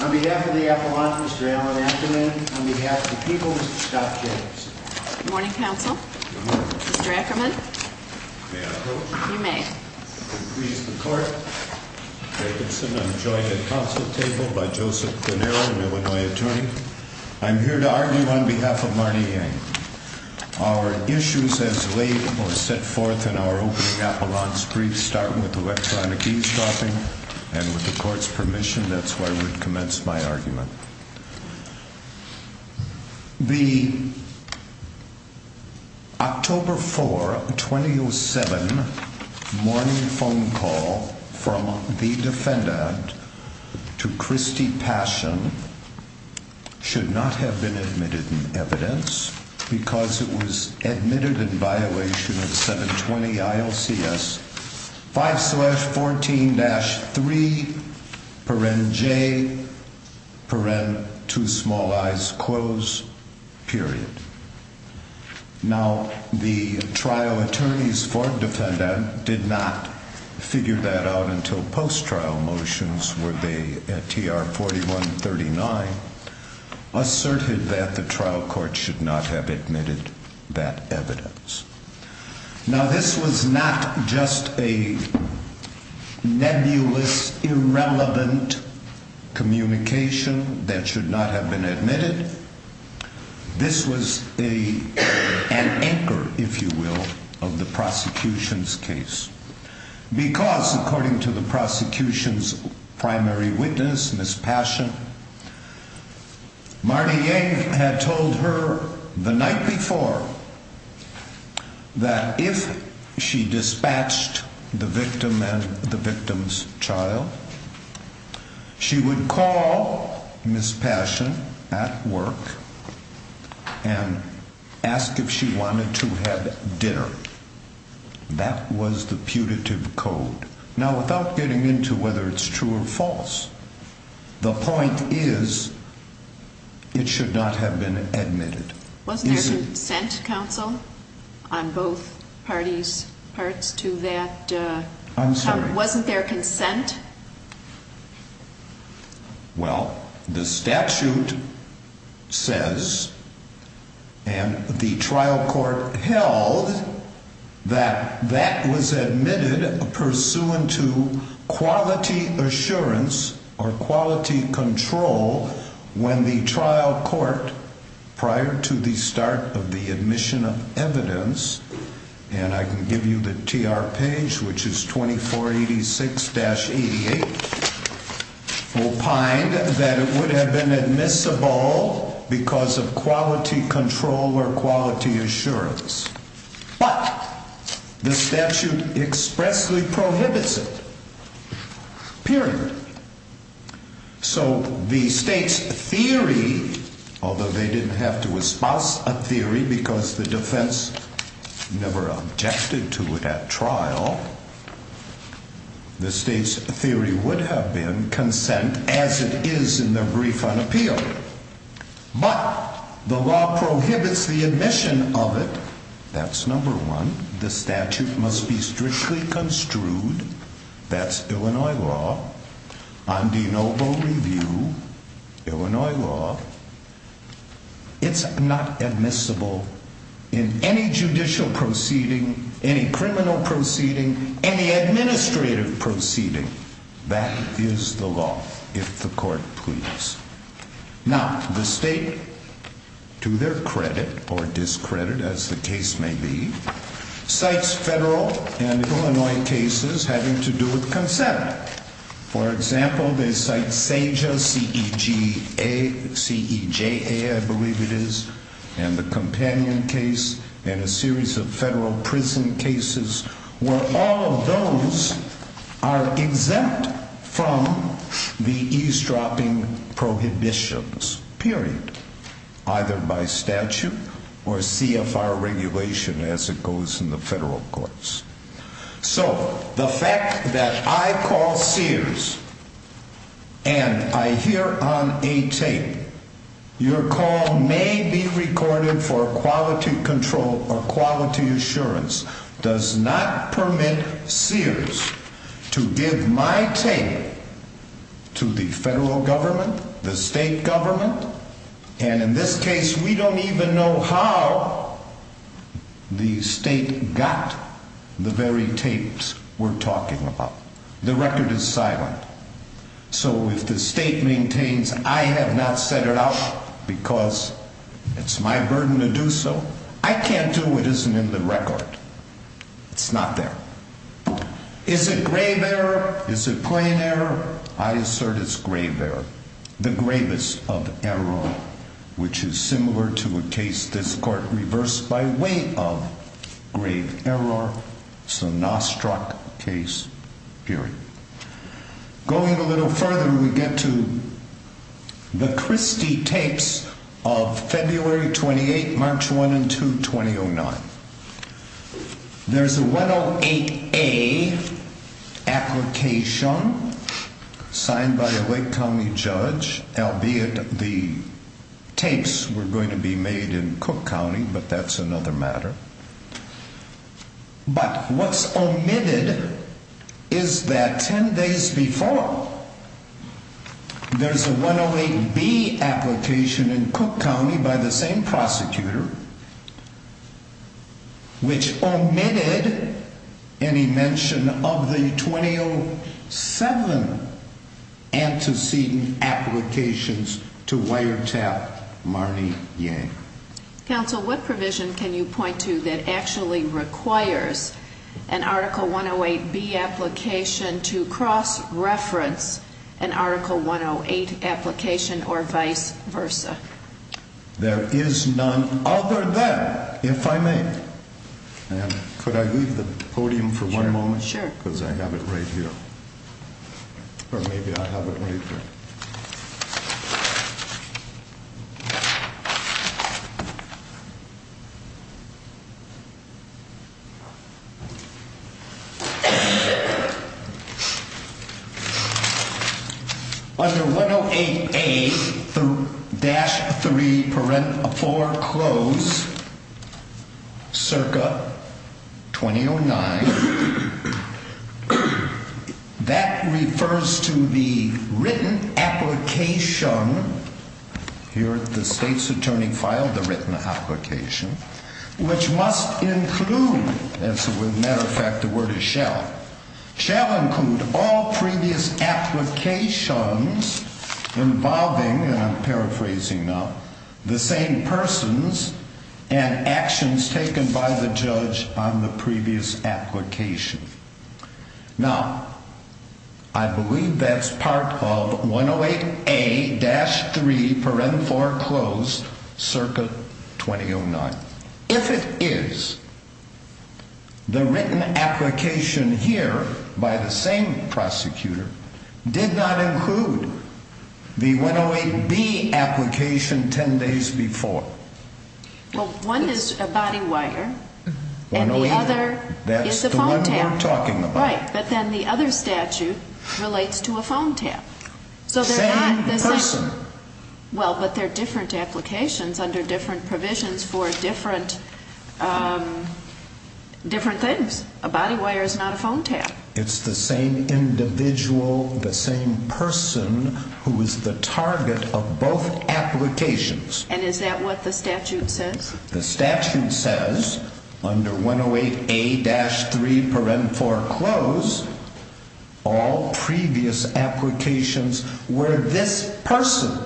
On behalf of the Appalachians, Mr. Alan Ackerman. On behalf of the people, Mr. Scott Jacobson. Good morning, counsel. Mr. Ackerman. May I approach? You may. Please, the court. Mr. Jacobson, I'm joined at the council table by Joseph Bonero, an Illinois attorney. I'm here to argue on behalf of Marnie Yang. Our issues as laid or set forth in our opening Appalachian briefs start with electronic eavesdropping. And with the court's permission, that's where I would commence my argument. The October 4, 2007, morning phone call from the defendant to Christy Passion should not have been admitted in evidence because it was admitted in violation of 720 ILCS 5 slash 14 dash 3, paren j, paren, two small i's, close, period. Now, the trial attorneys for defendant did not figure that out until post-trial motions where they, at TR 4139, asserted that the trial court should not have admitted that evidence. Now, this was not just a nebulous, irrelevant communication that should not have been admitted. This was an anchor, if you will, of the prosecution's case. Because, according to the prosecution's primary witness, Miss Passion, Marnie Yang had told her the night before that if she dispatched the victim and the victim's child, she would call Miss Passion at work and ask if she wanted to have dinner. That was the putative code. Now, without getting into whether it's true or false, the point is it should not have been admitted. Wasn't there consent, counsel, on both parties' parts to that? I'm sorry? Wasn't there consent? Well, the statute says, and the trial court held, that that was admitted pursuant to quality assurance or quality control when the trial court, prior to the start of the admission of evidence, and I can give you the TR page, which is 2486-8, opined that it would have been admissible because of quality control or quality assurance. But the statute expressly prohibits it. Period. So the state's theory, although they didn't have to espouse a theory because the defense never objected to it at trial, the state's theory would have been consent as it is in the brief unappealed. But the law prohibits the admission of it. That's number one. The statute must be strictly construed. That's Illinois law. On de novo review, Illinois law, it's not admissible in any judicial proceeding, any criminal proceeding, any administrative proceeding. That is the law, if the court pleases. Now, the state, to their credit or discredit, as the case may be, cites federal and Illinois cases having to do with consent. For example, they cite Seja, C-E-J-A, I believe it is, and the Companion case, and a series of federal prison cases where all of those are exempt from the eavesdropping prohibitions. Period. Either by statute or CFR regulation as it goes in the federal courts. So, the fact that I call Sears and I hear on a tape, your call may be recorded for quality control or quality assurance, does not permit Sears to give my tape to the federal government, the state government, and in this case, we don't even know how the state got it. The very tapes we're talking about. The record is silent. So, if the state maintains I have not set it out because it's my burden to do so, I can't do what isn't in the record. It's not there. Is it grave error? Is it plain error? I assert it's grave error. The gravest of error, which is similar to a case this court reversed by way of grave error. It's a Nostrack case. Period. Going a little further, we get to the Christie tapes of February 28, March 1 and 2, 2009. There's a 108A application signed by a Lake County judge, albeit the tapes were going to be made in Cook County, but that's another matter. But what's omitted is that 10 days before, there's a 108B application in Cook County by the same prosecutor, which omitted any mention of the 2007 antecedent applications to wiretap Marnie Yang. Counsel, what provision can you point to that actually requires an Article 108B application to cross-reference an Article 108 application or vice versa? There is none other than, if I may. Could I leave the podium for one moment? Sure. Because I have it right here. Or maybe I have it right here. Under 108A-3-4-CLOSE circa 2009. That refers to the written application, here the state's attorney filed the written application, which must include, as a matter of fact, the word is shall. Shall include all previous applications involving, and I'm paraphrasing now, the same persons and actions taken by the judge on the previous application. Now, I believe that's part of 108A-3-4-CLOSE circa 2009. If it is, the written application here by the same prosecutor did not include the 108B application 10 days before. Well, one is a body wire and the other is a phone tap. That's the one we're talking about. Right, but then the other statute relates to a phone tap. Same person. Well, but they're different applications under different provisions for different things. A body wire is not a phone tap. It's the same individual, the same person who is the target of both applications. And is that what the statute says? The statute says under 108A-3-4-CLOSE all previous applications where this person,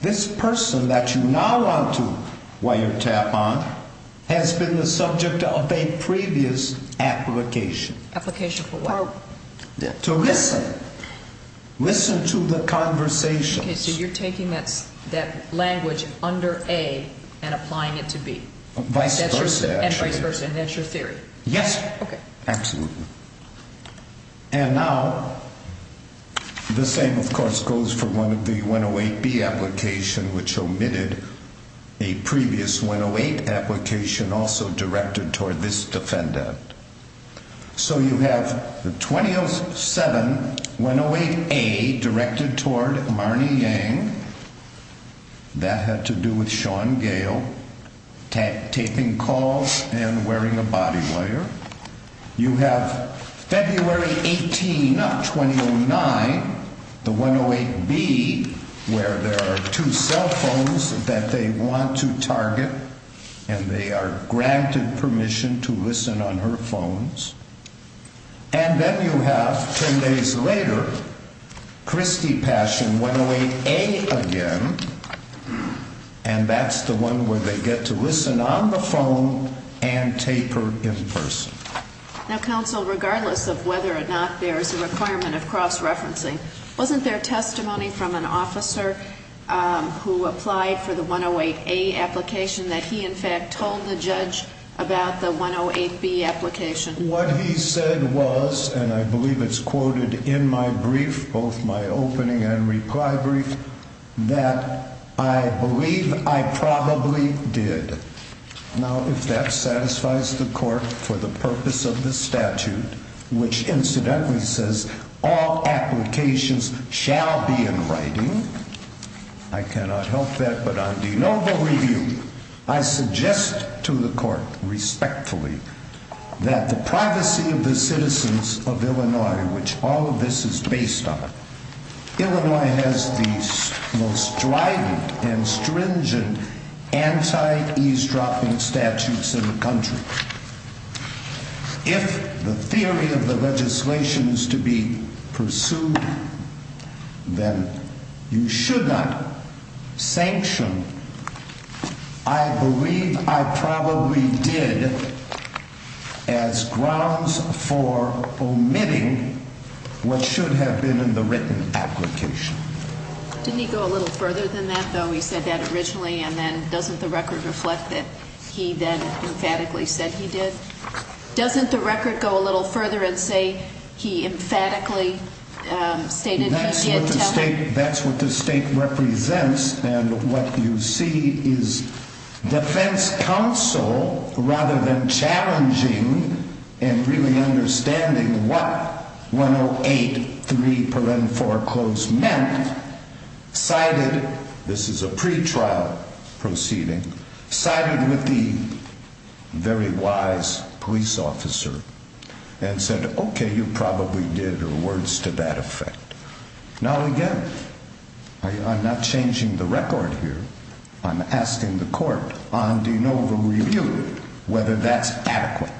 this person that you now want to wire tap on has been the subject of a previous application. Application for what? To listen. Listen to the conversations. Okay, so you're taking that language under A and applying it to B. Vice versa, actually. And vice versa, and that's your theory. Yes. Absolutely. And now the same, of course, goes for one of the 108B applications which omitted a previous 108 application also directed toward this defendant. So you have the 2007-108A directed toward Marnie Yang. That had to do with Sean Gale taping calls and wearing a body wire. You have February 18 of 2009, the 108B where there are two cell phones that they want to target and they are granted permission to listen on her phones. And then you have 10 days later, Christie Pash in 108A again, and that's the one where they get to listen on the phone and taper in person. Now, counsel, regardless of whether or not there is a requirement of cross-referencing, wasn't there testimony from an officer who applied for the 108A application that he, in fact, told the judge about the 108B application? What he said was, and I believe it's quoted in my brief, both my opening and reply brief, that I believe I probably did. Now, if that satisfies the court for the purpose of this statute, which incidentally says all applications shall be in writing, I cannot help that, but on de novo review, I suggest to the court respectfully that the privacy of the citizens of Illinois, which all of this is based on, Illinois has the most strident and stringent anti-eavesdropping statutes in the country. If the theory of the legislation is to be pursued, then you should not sanction, I believe I probably did, as grounds for omitting what should have been in the written application. Didn't he go a little further than that, though? He said that originally, and then doesn't the record reflect that he then emphatically said he did? Doesn't the record go a little further and say he emphatically stated he did? That's what the state represents, and what you see is defense counsel, rather than challenging and really understanding what 108.3.4.4 meant, cited, this is a pretrial proceeding, cited with the very wise police officer and said, okay, you probably did, or words to that effect. Now, again, I'm not changing the record here. I'm asking the court on de novo review whether that's adequate.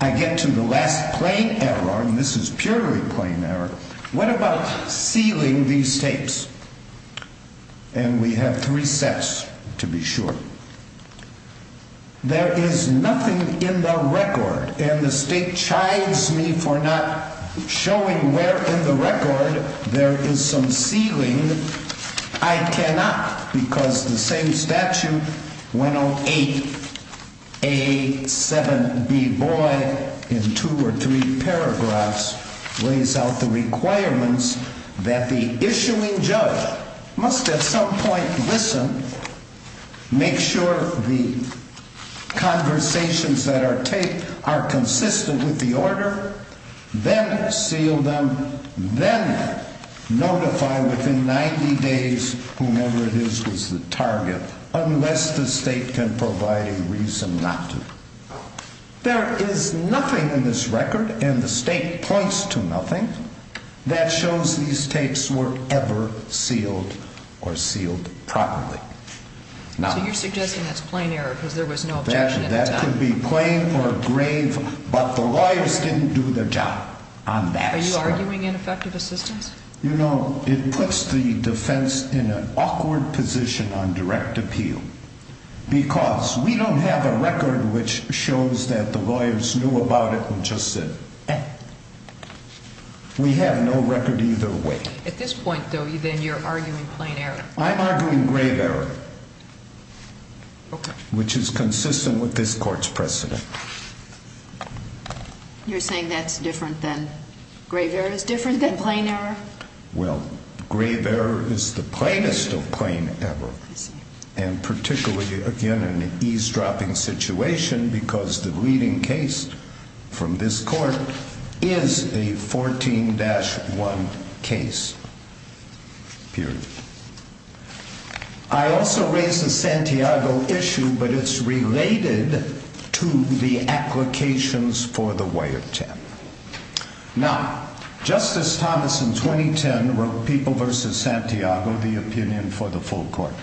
I get to the last plain error, and this is purely plain error. What about sealing these states? And we have three sets, to be sure. There is nothing in the record, and the state chides me for not showing where in the record there is some sealing. I cannot, because the same statute, 108.A.7.B. Boyd, in two or three paragraphs, lays out the requirements that the issuing judge must at some point listen, make sure the conversations that are taped are consistent with the order, then seal them, then notify within 90 days whomever it is was the target, unless the state can provide a reason not to. There is nothing in this record, and the state points to nothing, that shows these states were ever sealed or sealed properly. So you're suggesting that's plain error because there was no objection at the time? That could be plain or grave, but the lawyers didn't do their job on that. Are you arguing ineffective assistance? You know, it puts the defense in an awkward position on direct appeal, because we don't have a record which shows that the lawyers knew about it and just said, eh. We have no record either way. At this point, though, then you're arguing plain error. I'm arguing grave error, which is consistent with this court's precedent. You're saying that's different than, grave error is different than plain error? Well, grave error is the plainest of plain error, and particularly, again, in an eavesdropping situation, because the leading case from this court is a 14-1 case, period. I also raised the Santiago issue, but it's related to the applications for the Wyatt Ten. Now, Justice Thomas in 2010 wrote People v. Santiago, the opinion for the full court.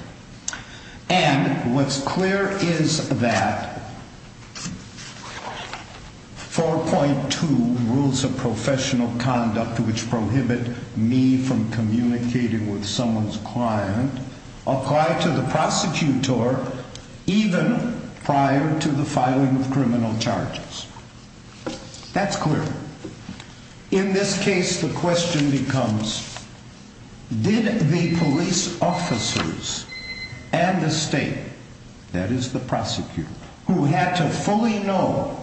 And what's clear is that 4.2 rules of professional conduct, which prohibit me from communicating with someone's client, apply to the prosecutor even prior to the filing of criminal charges. That's clear. In this case, the question becomes, did the police officers and the state, that is the prosecutor, who had to fully know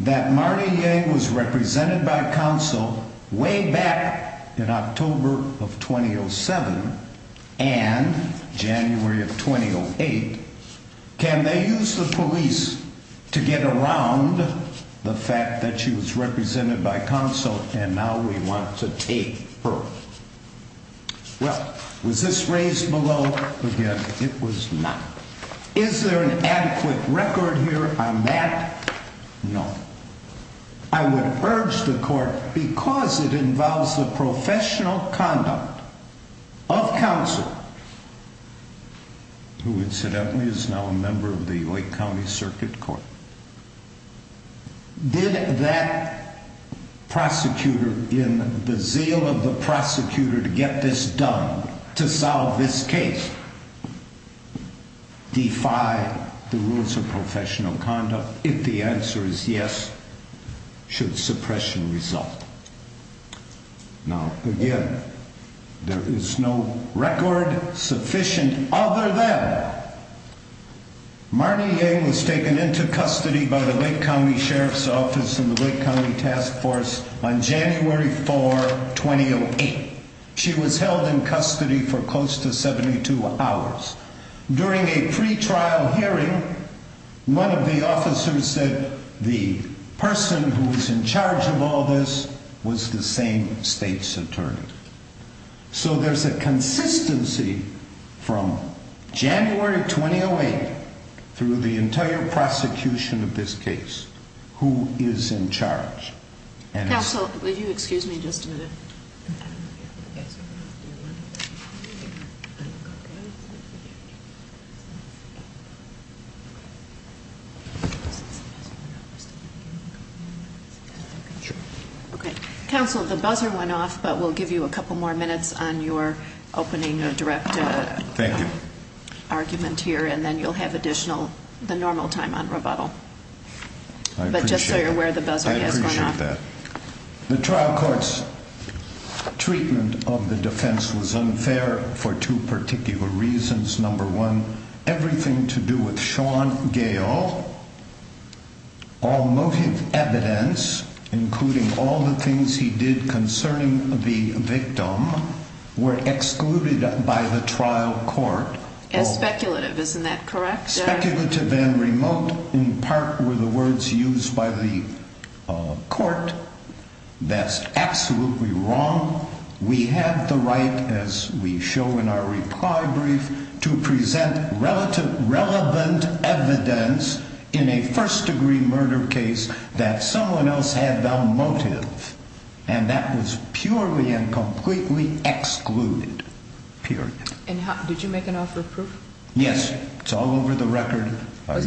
that Marnie Yang was represented by counsel way back in October of 2007 and January of 2008, can they use the police to get around the fact that she was represented by counsel and now we want to take her? Well, was this raised below? Again, it was not. Is there an adequate record here on that? No. I would urge the court, because it involves the professional conduct of counsel, who incidentally is now a member of the Lake County Circuit Court, did that prosecutor in the zeal of the prosecutor to get this done, to solve this case, defy the rules of professional conduct? If the answer is yes, should suppression result? No. Again, there is no record sufficient other than Marnie Yang was taken into custody by the Lake County Sheriff's Office and the Lake County Task Force on January 4, 2008. She was held in custody for close to 72 hours. During a pre-trial hearing, one of the officers said the person who is in charge of all this was the same state's attorney. So there is a consistency from January 2008 through the entire prosecution of this case, who is in charge. Counsel, would you excuse me just a minute? Sure. Okay. Counsel, the buzzer went off, but we'll give you a couple more minutes on your opening direct argument here, and then you'll have additional, the normal time on rebuttal. I appreciate that. But just so you're aware, the buzzer has gone off. I appreciate that. The trial court's treatment of the defense was unfair for two particular reasons. Number one, everything to do with Sean Gale, all motive evidence, including all the things he did concerning the victim, were excluded by the trial court. And speculative, isn't that correct? Speculative and remote, in part, were the words used by the court. That's absolutely wrong. We have the right, as we show in our reply brief, to present relevant evidence in a first-degree murder case that someone else had no motive. And that was purely and completely excluded. Period. Did you make an offer of proof? Yes. It's all over the record. I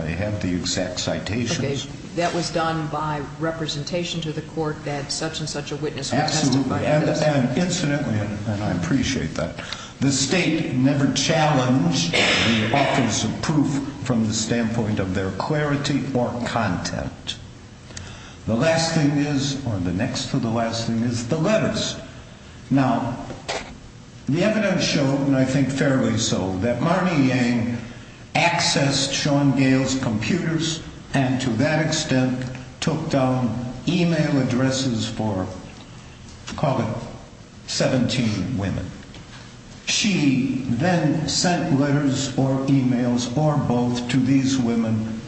have the exact citations. Okay. That was done by representation to the court that such-and-such a witness would testify. Absolutely. And incidentally, and I appreciate that, the state never challenged the offers of proof from the standpoint of their clarity or content. The last thing is, or the next to the last thing, is the letters. Now, the evidence showed, and I think fairly so, that Marnie Yang accessed Sean Gale's computers and, to that extent, took down email addresses for, call it, 17 women. She then sent letters or emails or both to these women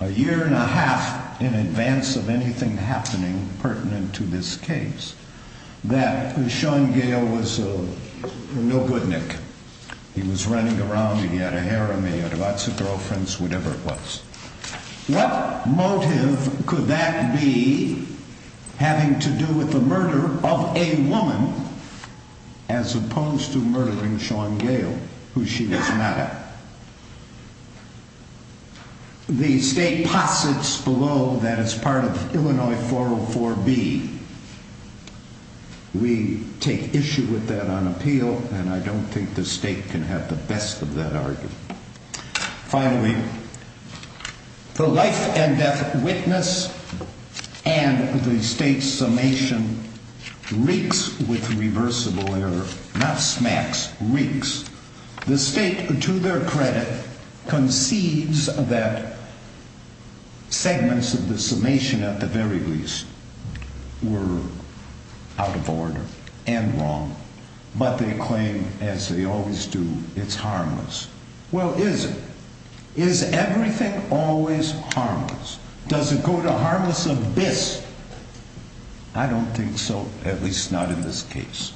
a year and a half in advance of anything happening pertinent to this case. That Sean Gale was no good, Nick. He was running around and he had a harem, he had lots of girlfriends, whatever it was. What motive could that be having to do with the murder of a woman as opposed to murdering Sean Gale, who she was mad at? The state posits below that it's part of Illinois 404B. We take issue with that on appeal and I don't think the state can have the best of that argument. Finally, the life and death witness and the state's summation reeks with reversible error, not smacks, reeks. The state, to their credit, conceives that segments of the summation, at the very least, were out of order and wrong, but they claim, as they always do, it's harmless. Well, is it? Is everything always harmless? Does it go to harmless abyss? I don't think so, at least not in this case.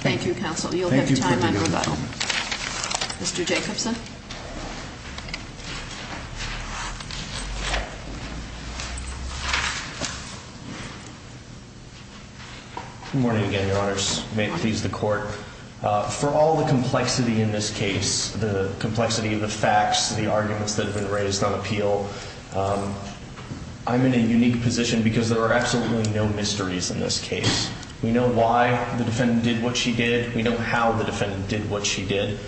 Thank you, counsel. You'll have time after rebuttal. Mr. Jacobson. Good morning again, Your Honors. May it please the court. For all the complexity in this case, the complexity of the facts, the arguments that have been raised on appeal, I'm in a unique position because there are absolutely no mysteries in this case. We know why the defendant did what she did. We know how the defendant did what she did.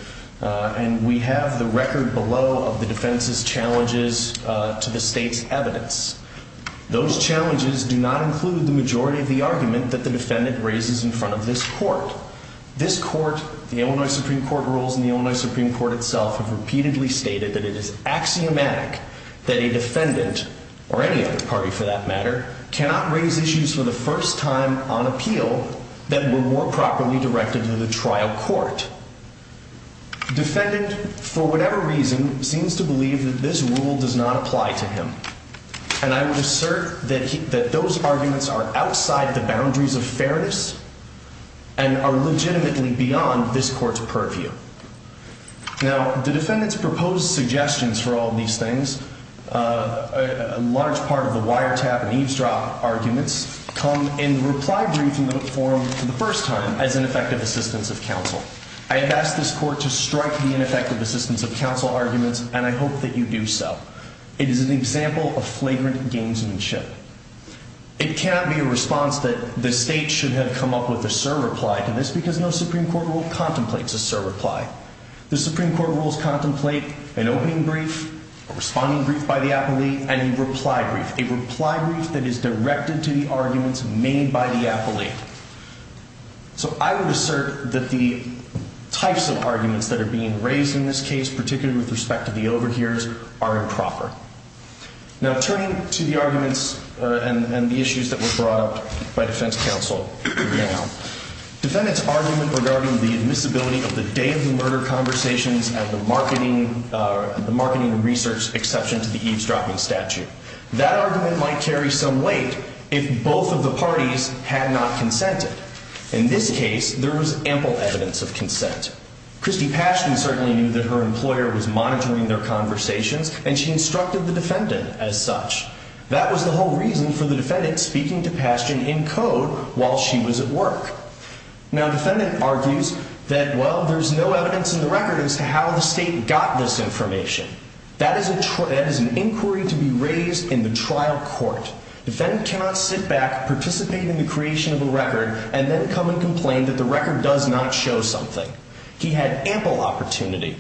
And we have the record below of the defense's challenges to the state's evidence. Those challenges do not include the majority of the argument that the defendant raises in front of this court. This court, the Illinois Supreme Court rules, and the Illinois Supreme Court itself have repeatedly stated that it is axiomatic that a defendant, or any other party for that matter, cannot raise issues for the first time on appeal that were more properly directed to the trial court. Defendant, for whatever reason, seems to believe that this rule does not apply to him. And I would assert that those arguments are outside the boundaries of fairness and are legitimately beyond this court's purview. Now, the defendant's proposed suggestions for all these things, a large part of the wiretap and eavesdrop arguments, come in the reply brief in the forum for the first time as ineffective assistance of counsel. I have asked this court to strike the ineffective assistance of counsel arguments, and I hope that you do so. It is an example of flagrant gamesmanship. It cannot be a response that the state should have come up with a sur-reply to this because no Supreme Court rule contemplates a sur-reply. The Supreme Court rules contemplate an opening brief, a responding brief by the appellee, and a reply brief, a reply brief that is directed to the arguments made by the appellee. So I would assert that the types of arguments that are being raised in this case, particularly with respect to the overhears, are improper. Now, turning to the arguments and the issues that were brought up by defense counsel in the email, defendant's argument regarding the admissibility of the day-of-the-murder conversations at the marketing research exception to the eavesdropping statute, that argument might carry some weight if both of the parties had not consented. In this case, there was ample evidence of consent. Christy Pashtun certainly knew that her employer was monitoring their conversations, and she instructed the defendant as such. That was the whole reason for the defendant speaking to Pashtun in code while she was at work. Now, defendant argues that, well, there's no evidence in the record as to how the state got this information. That is an inquiry to be raised in the trial court. Defendant cannot sit back, participate in the creation of a record, and then come and complain that the record does not show something. He had ample opportunity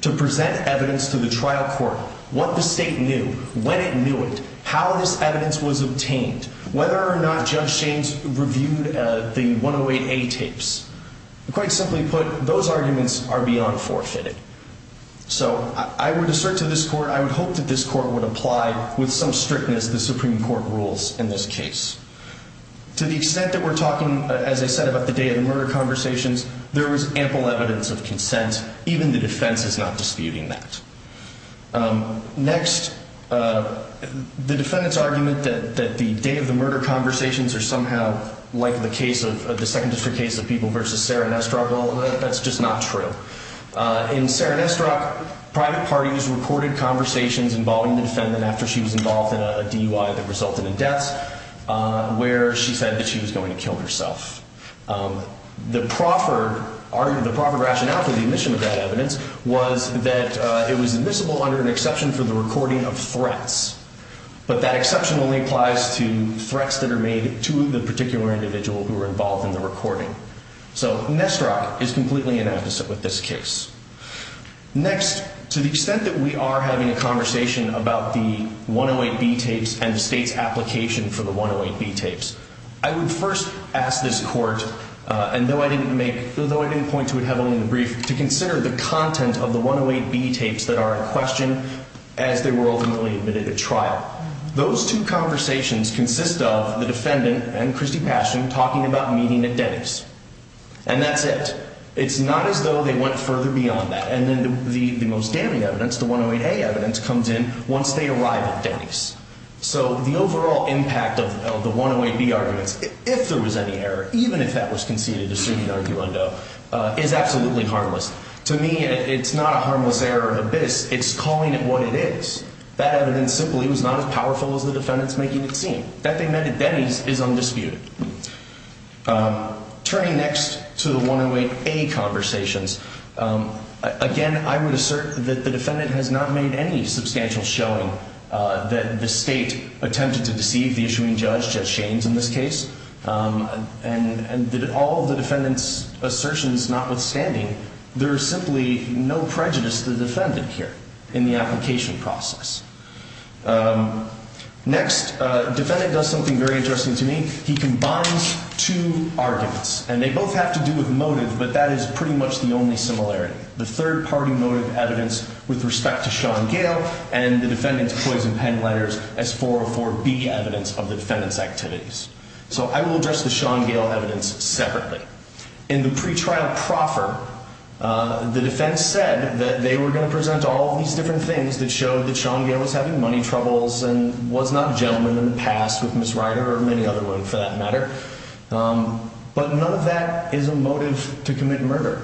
to present evidence to the trial court, what the state knew, when it knew it, how this evidence was obtained, whether or not Judge Shaines reviewed the 108A tapes. Quite simply put, those arguments are beyond forfeited. So I would assert to this court, I would hope that this court would apply with some strictness the Supreme Court rules in this case. To the extent that we're talking, as I said, about the day-of-the-murder conversations, there was ample evidence of consent. Even the defense is not disputing that. Next, the defendant's argument that the day-of-the-murder conversations are somehow like the case of the Second District case of people versus Sarah Nesterov, well, that's just not true. In Sarah Nesterov, private parties recorded conversations involving the defendant after she was involved in a DUI that resulted in deaths. Where she said that she was going to kill herself. The proper rationale for the admission of that evidence was that it was admissible under an exception for the recording of threats. But that exception only applies to threats that are made to the particular individual who were involved in the recording. So Nesterov is completely inapposite with this case. Next, to the extent that we are having a conversation about the 108B tapes and the state's application for the 108B tapes, I would first ask this court, and though I didn't point to it heavily in the brief, to consider the content of the 108B tapes that are in question as they were ultimately admitted at trial. Those two conversations consist of the defendant and Christy Paschen talking about meeting at Denny's. And that's it. It's not as though they went further beyond that. And then the most damning evidence, the 108A evidence, comes in once they arrive at Denny's. So the overall impact of the 108B arguments, if there was any error, even if that was conceded, is absolutely harmless. To me, it's not a harmless error in abyss. It's calling it what it is. That evidence simply was not as powerful as the defendants making it seem. That they meant at Denny's is undisputed. Turning next to the 108A conversations, again, I would assert that the defendant has not made any substantial showing that the state attempted to deceive the issuing judge, Judge Shaines in this case, and that all of the defendants' assertions notwithstanding, there is simply no prejudice to the defendant here in the application process. Next, the defendant does something very interesting to me. He combines two arguments. And they both have to do with motive, but that is pretty much the only similarity. The third-party motive evidence with respect to Sean Gale and the defendant's poison pen letters as 404B evidence of the defendant's activities. So I will address the Sean Gale evidence separately. In the pretrial proffer, the defense said that they were going to present all of these different things that showed that Sean Gale was having money troubles and was not a gentleman in the past with Ms. Ryder, or any other woman for that matter. But none of that is a motive to commit murder.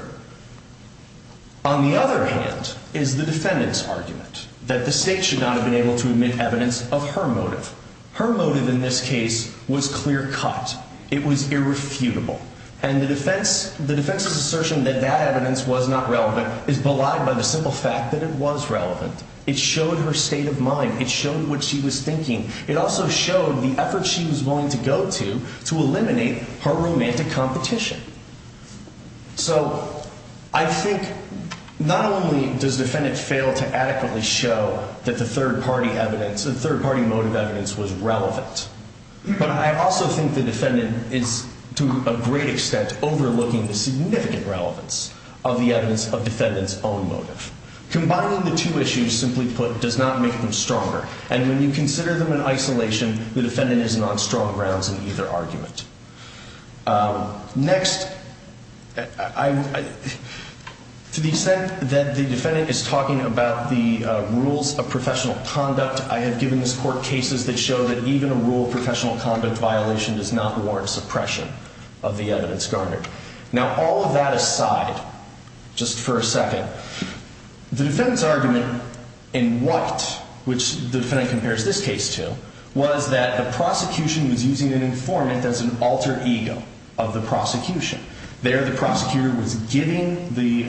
On the other hand, is the defendant's argument that the state should not have been able to admit evidence of her motive. Her motive in this case was clear cut. It was irrefutable. And the defense's assertion that that evidence was not relevant is belied by the simple fact that it was relevant. It showed her state of mind. It showed what she was thinking. It also showed the effort she was willing to go to to eliminate her romantic competition. So I think not only does the defendant fail to adequately show that the third-party motive evidence was relevant, but I also think the defendant is, to a great extent, overlooking the significant relevance of the evidence of the defendant's own motive. Combining the two issues, simply put, does not make them stronger. And when you consider them in isolation, the defendant is not on strong grounds in either argument. Next, to the extent that the defendant is talking about the rules of professional conduct, I have given this Court cases that show that even a rule of professional conduct violation does not warrant suppression of the evidence garnered. Now, all of that aside, just for a second, the defendant's argument in White, which the defendant compares this case to, was that the prosecution was using an informant as an alter ego of the prosecution. There, the prosecutor was giving the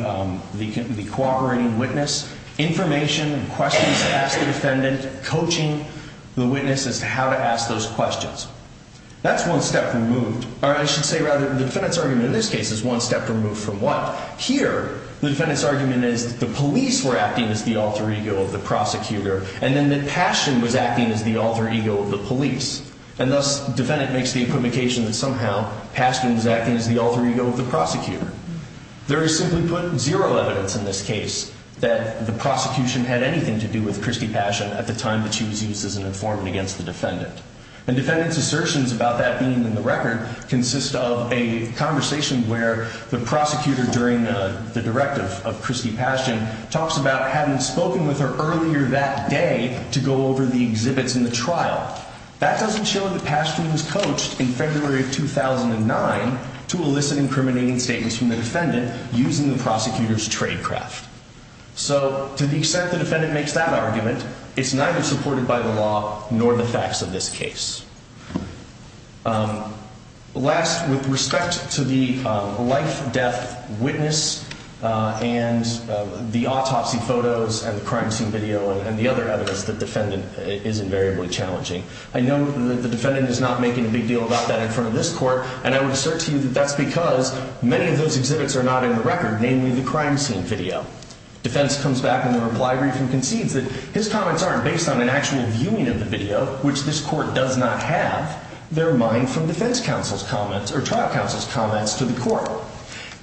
cooperating witness information and questions to ask the defendant, coaching the witness as to how to ask those questions. That's one step removed. Or I should say, rather, the defendant's argument in this case is one step removed from what? Here, the defendant's argument is that the police were acting as the alter ego of the prosecutor, and then that Paschen was acting as the alter ego of the police. And thus, the defendant makes the equivocation that somehow Paschen was acting as the alter ego of the prosecutor. There is simply put zero evidence in this case that the prosecution had anything to do with Christy Paschen at the time that she was used as an informant against the defendant. And defendant's assertions about that being in the record consist of a conversation where the prosecutor, during the directive of Christy Paschen, talks about having spoken with her earlier that day to go over the exhibits in the trial. That doesn't show that Paschen was coached in February of 2009 to elicit incriminating statements from the defendant using the prosecutor's tradecraft. So, to the extent the defendant makes that argument, it's neither supported by the law nor the facts of this case. Last, with respect to the life-death witness and the autopsy photos and the crime scene video and the other evidence, the defendant is invariably challenging. I know that the defendant is not making a big deal about that in front of this court, and I would assert to you that that's because many of those exhibits are not in the record, namely the crime scene video. Defense comes back in the reply brief and concedes that his comments aren't based on an actual viewing of the video, which this court does not have. They're mine from defense counsel's comments or trial counsel's comments to the court.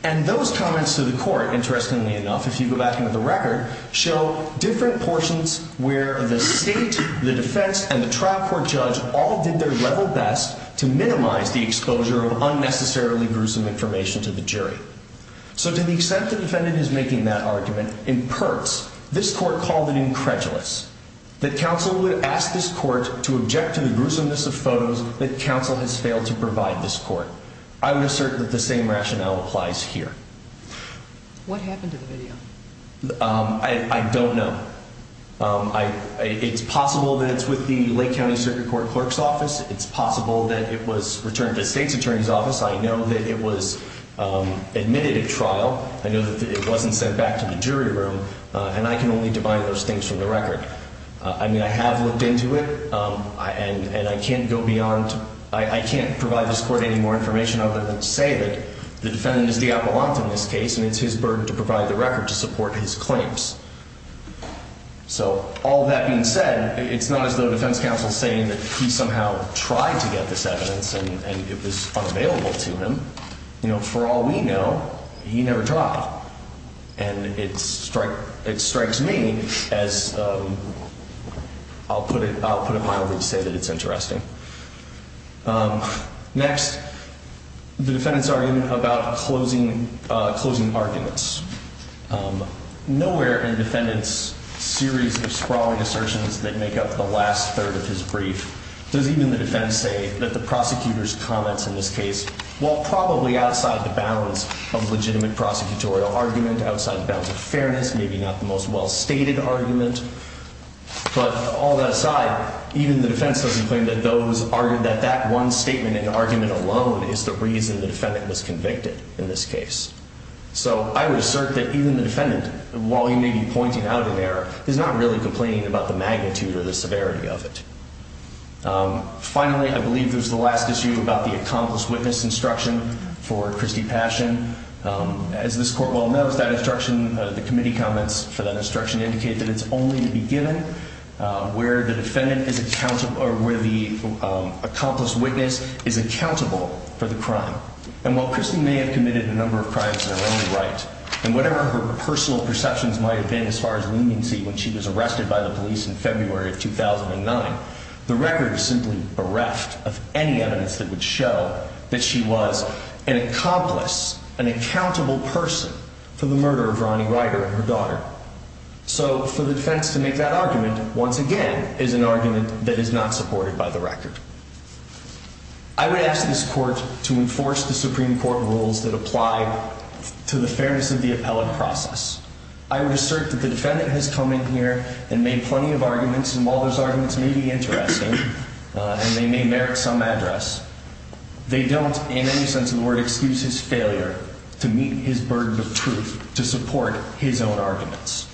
And those comments to the court, interestingly enough, if you go back into the record, show different portions where the state, the defense, and the trial court judge all did their level best to minimize the exposure of unnecessarily gruesome information to the jury. So, to the extent the defendant is making that argument, in part, this court called it incredulous that counsel would ask this court to object to the gruesomeness of photos that counsel has failed to provide this court. I would assert that the same rationale applies here. What happened to the video? I don't know. It's possible that it's with the Lake County Circuit Court Clerk's office. It's possible that it was returned to the state's attorney's office. I know that it was admitted at trial. I know that it wasn't sent back to the jury room, and I can only divide those things from the record. I mean, I have looked into it, and I can't go beyond, I can't provide this court any more information other than to say that the defendant is the appellant in this case, and it's his burden to provide the record to support his claims. So, all that being said, it's not as though defense counsel is saying that he somehow tried to get this evidence, and it was unavailable to him. You know, for all we know, he never tried. And it strikes me as, I'll put it mildly, to say that it's interesting. Next, the defendant's argument about closing arguments. Nowhere in the defendant's series of sprawling assertions that make up the last third of his brief does even the defense say that the prosecutor's comments in this case, while probably outside the bounds of legitimate prosecutorial argument, outside the bounds of fairness, maybe not the most well-stated argument, but all that aside, even the defense doesn't claim that that one statement and argument alone is the reason the defendant was convicted in this case. So, I would assert that even the defendant, while he may be pointing out an error, is not really complaining about the magnitude or the severity of it. Finally, I believe this is the last issue about the accomplished witness instruction for Christie Passion. As this court well knows, that instruction, the committee comments for that instruction indicate that it's only to be given where the defendant is accountable, or where the accomplished witness is accountable for the crime. And while Christie may have committed a number of crimes in her own right, and whatever her personal perceptions might have been as far as leniency when she was arrested by the police in February of 2009, the record is simply bereft of any evidence that would show that she was an accomplice, an accountable person for the murder of Ronnie Ryder and her daughter. So, for the defense to make that argument, once again, is an argument that is not supported by the record. I would ask this court to enforce the Supreme Court rules that apply to the fairness of the appellate process. I would assert that the defendant has come in here and made plenty of arguments, and while those arguments may be interesting, and they may merit some address, they don't, in any sense of the word, excuse his failure to meet his burden of truth to support his own arguments.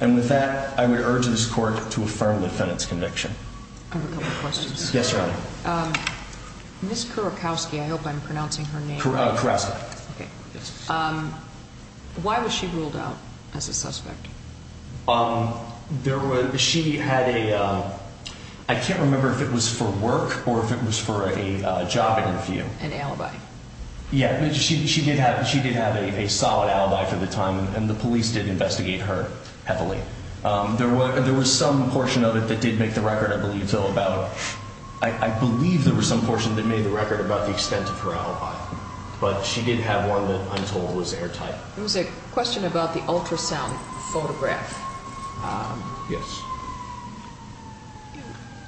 And with that, I would urge this court to affirm the defendant's conviction. I have a couple of questions. Yes, Your Honor. Ms. Kurakowski, I hope I'm pronouncing her name correctly. Kurakowski. Why was she ruled out as a suspect? She had a, I can't remember if it was for work or if it was for a job interview. An alibi. Yeah, she did have a solid alibi for the time, and the police did investigate her heavily. There was some portion of it that did make the record, I believe, Phil, about, I believe there was some portion that made the record about the extent of her alibi, but she did have one that I'm told was airtight. There was a question about the ultrasound photograph. Yes.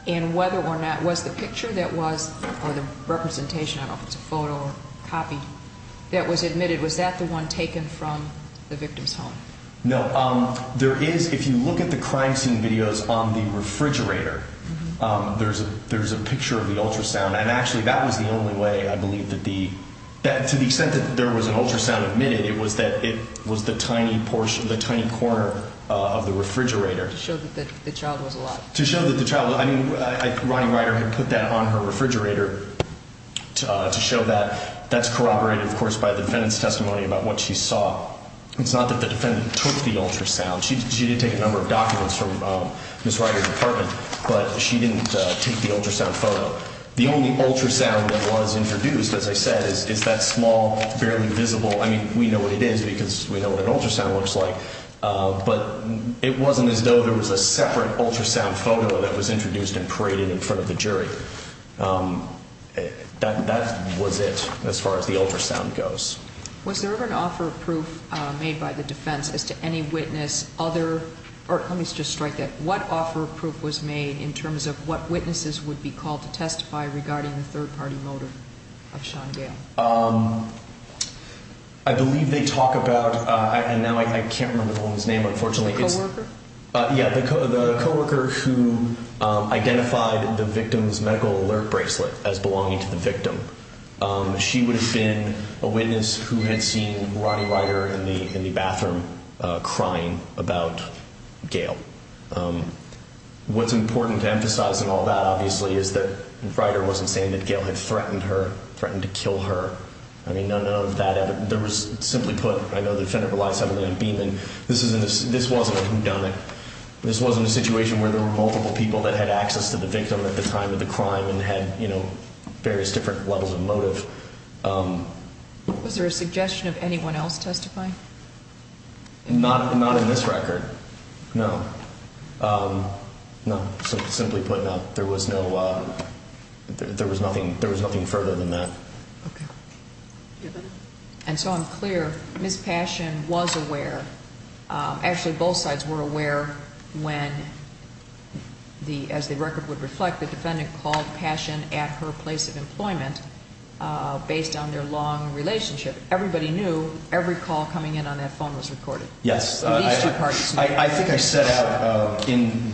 And whether or not, was the picture that was, or the representation, I don't know if it's a photo or copy, that was admitted, was that the one taken from the victim's home? No. There is, if you look at the crime scene videos on the refrigerator, there's a picture of the ultrasound, and actually that was the only way I believe that the, to the extent that there was an ultrasound admitted, it was that it was the tiny portion, the tiny corner of the refrigerator. To show that the child was alive. To show that the child, I mean, Ronnie Ryder had put that on her refrigerator to show that. That's corroborated, of course, by the defendant's testimony about what she saw. It's not that the defendant took the ultrasound. She did take a number of documents from Ms. Ryder's apartment, but she didn't take the ultrasound photo. The only ultrasound that was introduced, as I said, is that small, barely visible, I mean, we know what it is because we know what an ultrasound looks like, but it wasn't as though there was a separate ultrasound photo that was introduced and paraded in front of the jury. That was it. As far as the ultrasound goes. Was there ever an offer of proof made by the defense as to any witness, other, or let me just strike that, what offer of proof was made in terms of what witnesses would be called to testify regarding the third-party motive of Sean Gale? I believe they talk about, and now I can't remember the woman's name, unfortunately. The co-worker? Yeah, the co-worker who identified the victim's medical alert bracelet as belonging to the victim. She would have been a witness who had seen Roddy Ryder in the bathroom crying about Gale. What's important to emphasize in all that, obviously, is that Ryder wasn't saying that Gale had threatened her, threatened to kill her. I mean, none of that, there was, simply put, I know the defendant relies heavily on Beeman, this wasn't a whodunit. This wasn't a situation where there were multiple people that had access to the victim at the time of the crime and had various different levels of motive. Was there a suggestion of anyone else testifying? Not in this record. No. No, simply put, there was no, there was nothing further than that. Okay. And so I'm clear, Ms. Passion was aware, actually, both sides were aware when, as the record would reflect, the defendant called Passion at her place of employment based on their long relationship. Everybody knew every call coming in on that phone was recorded. Yes. At least your parties knew. I think I set out,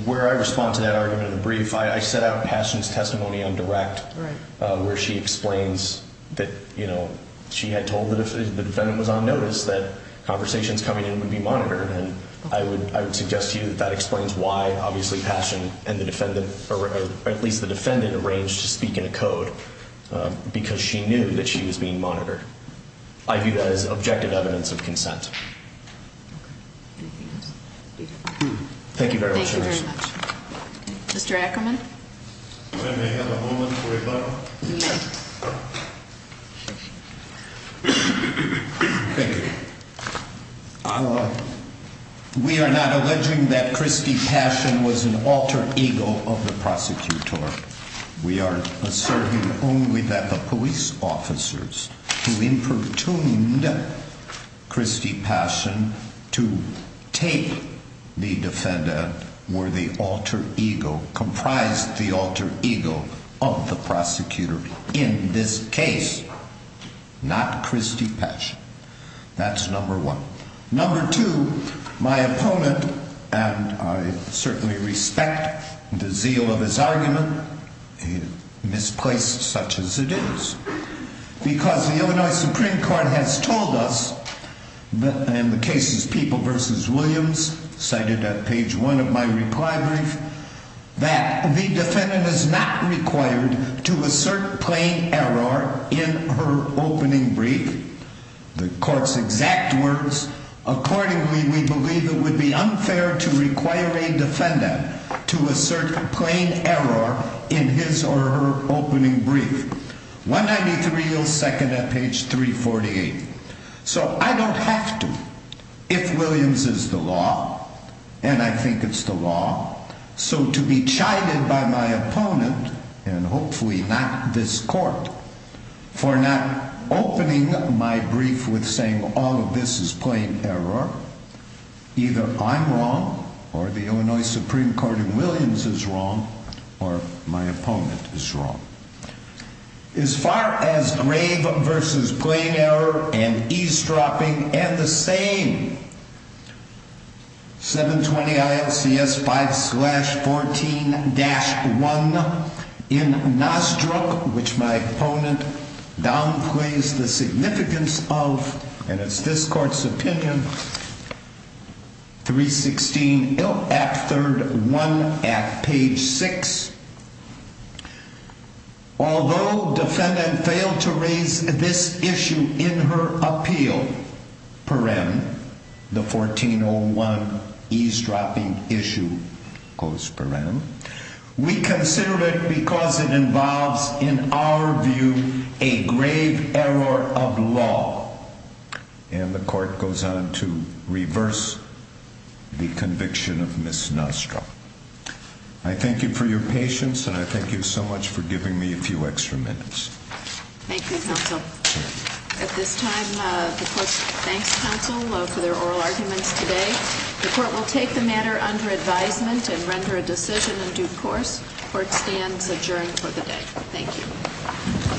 where I respond to that argument in the brief, I set out Passion's testimony on direct where she explains that, you know, she had told the defendant that if the defendant was on notice that conversations coming in were being monitored. That explains why, obviously, Passion and the defendant, or at least the defendant, arranged to speak in a code because she knew that she was being monitored. I view that as objective evidence of consent. Thank you very much. Thank you very much. Mr. Ackerman? May I have a moment for rebuttal? Yes. Thank you. We are not alleging that Christy Passion was an alter ego of the prosecutor. We are asserting only that the police officers who improtuned Christy Passion to take the defendant were the alter ego, of the prosecutor in this case, not Christy Passion. That is not true. That is number one. Number two, my opponent, and I certainly respect the zeal of his argument, misplaced such as it is, because the Illinois Supreme Court has told us in the cases People v. Williams, cited at page one of my reply brief, that the defendant is not required to assert plain error in her opening brief. Act words, accordingly we believe it would be unfair to require a defendant to assert plain error in his or her opening brief. 193 yields second at page 348. So I don't have to, if Williams is the law, and I think it's the law, so to be chided by my opponent, and hopefully not this court, for not opening my brief while this is plain error, either I'm wrong, or the Illinois Supreme Court in Williams is wrong, or my opponent is wrong. As far as grave v. plain error and eavesdropping, and the same, 720 ILCS 5-14-1 in Nostruc, which my opponent downplays the significance of, and it's this court's opinion, 316, act third, one at page six. Although defendant failed to raise this issue in her appeal, perem, the 1401 eavesdropping issue, goes perem, we consider it because it involves, in our view, a grave error of law. And the court goes on to reverse the conviction of Ms. Nostruc. I thank you for your patience, and I thank you so much for giving me a few extra minutes. Thank you, counsel. At this time, the court thanks counsel for their oral arguments today. The court will take the matter under advisement and render a decision in due course. Court stands adjourned for the day. Thank you.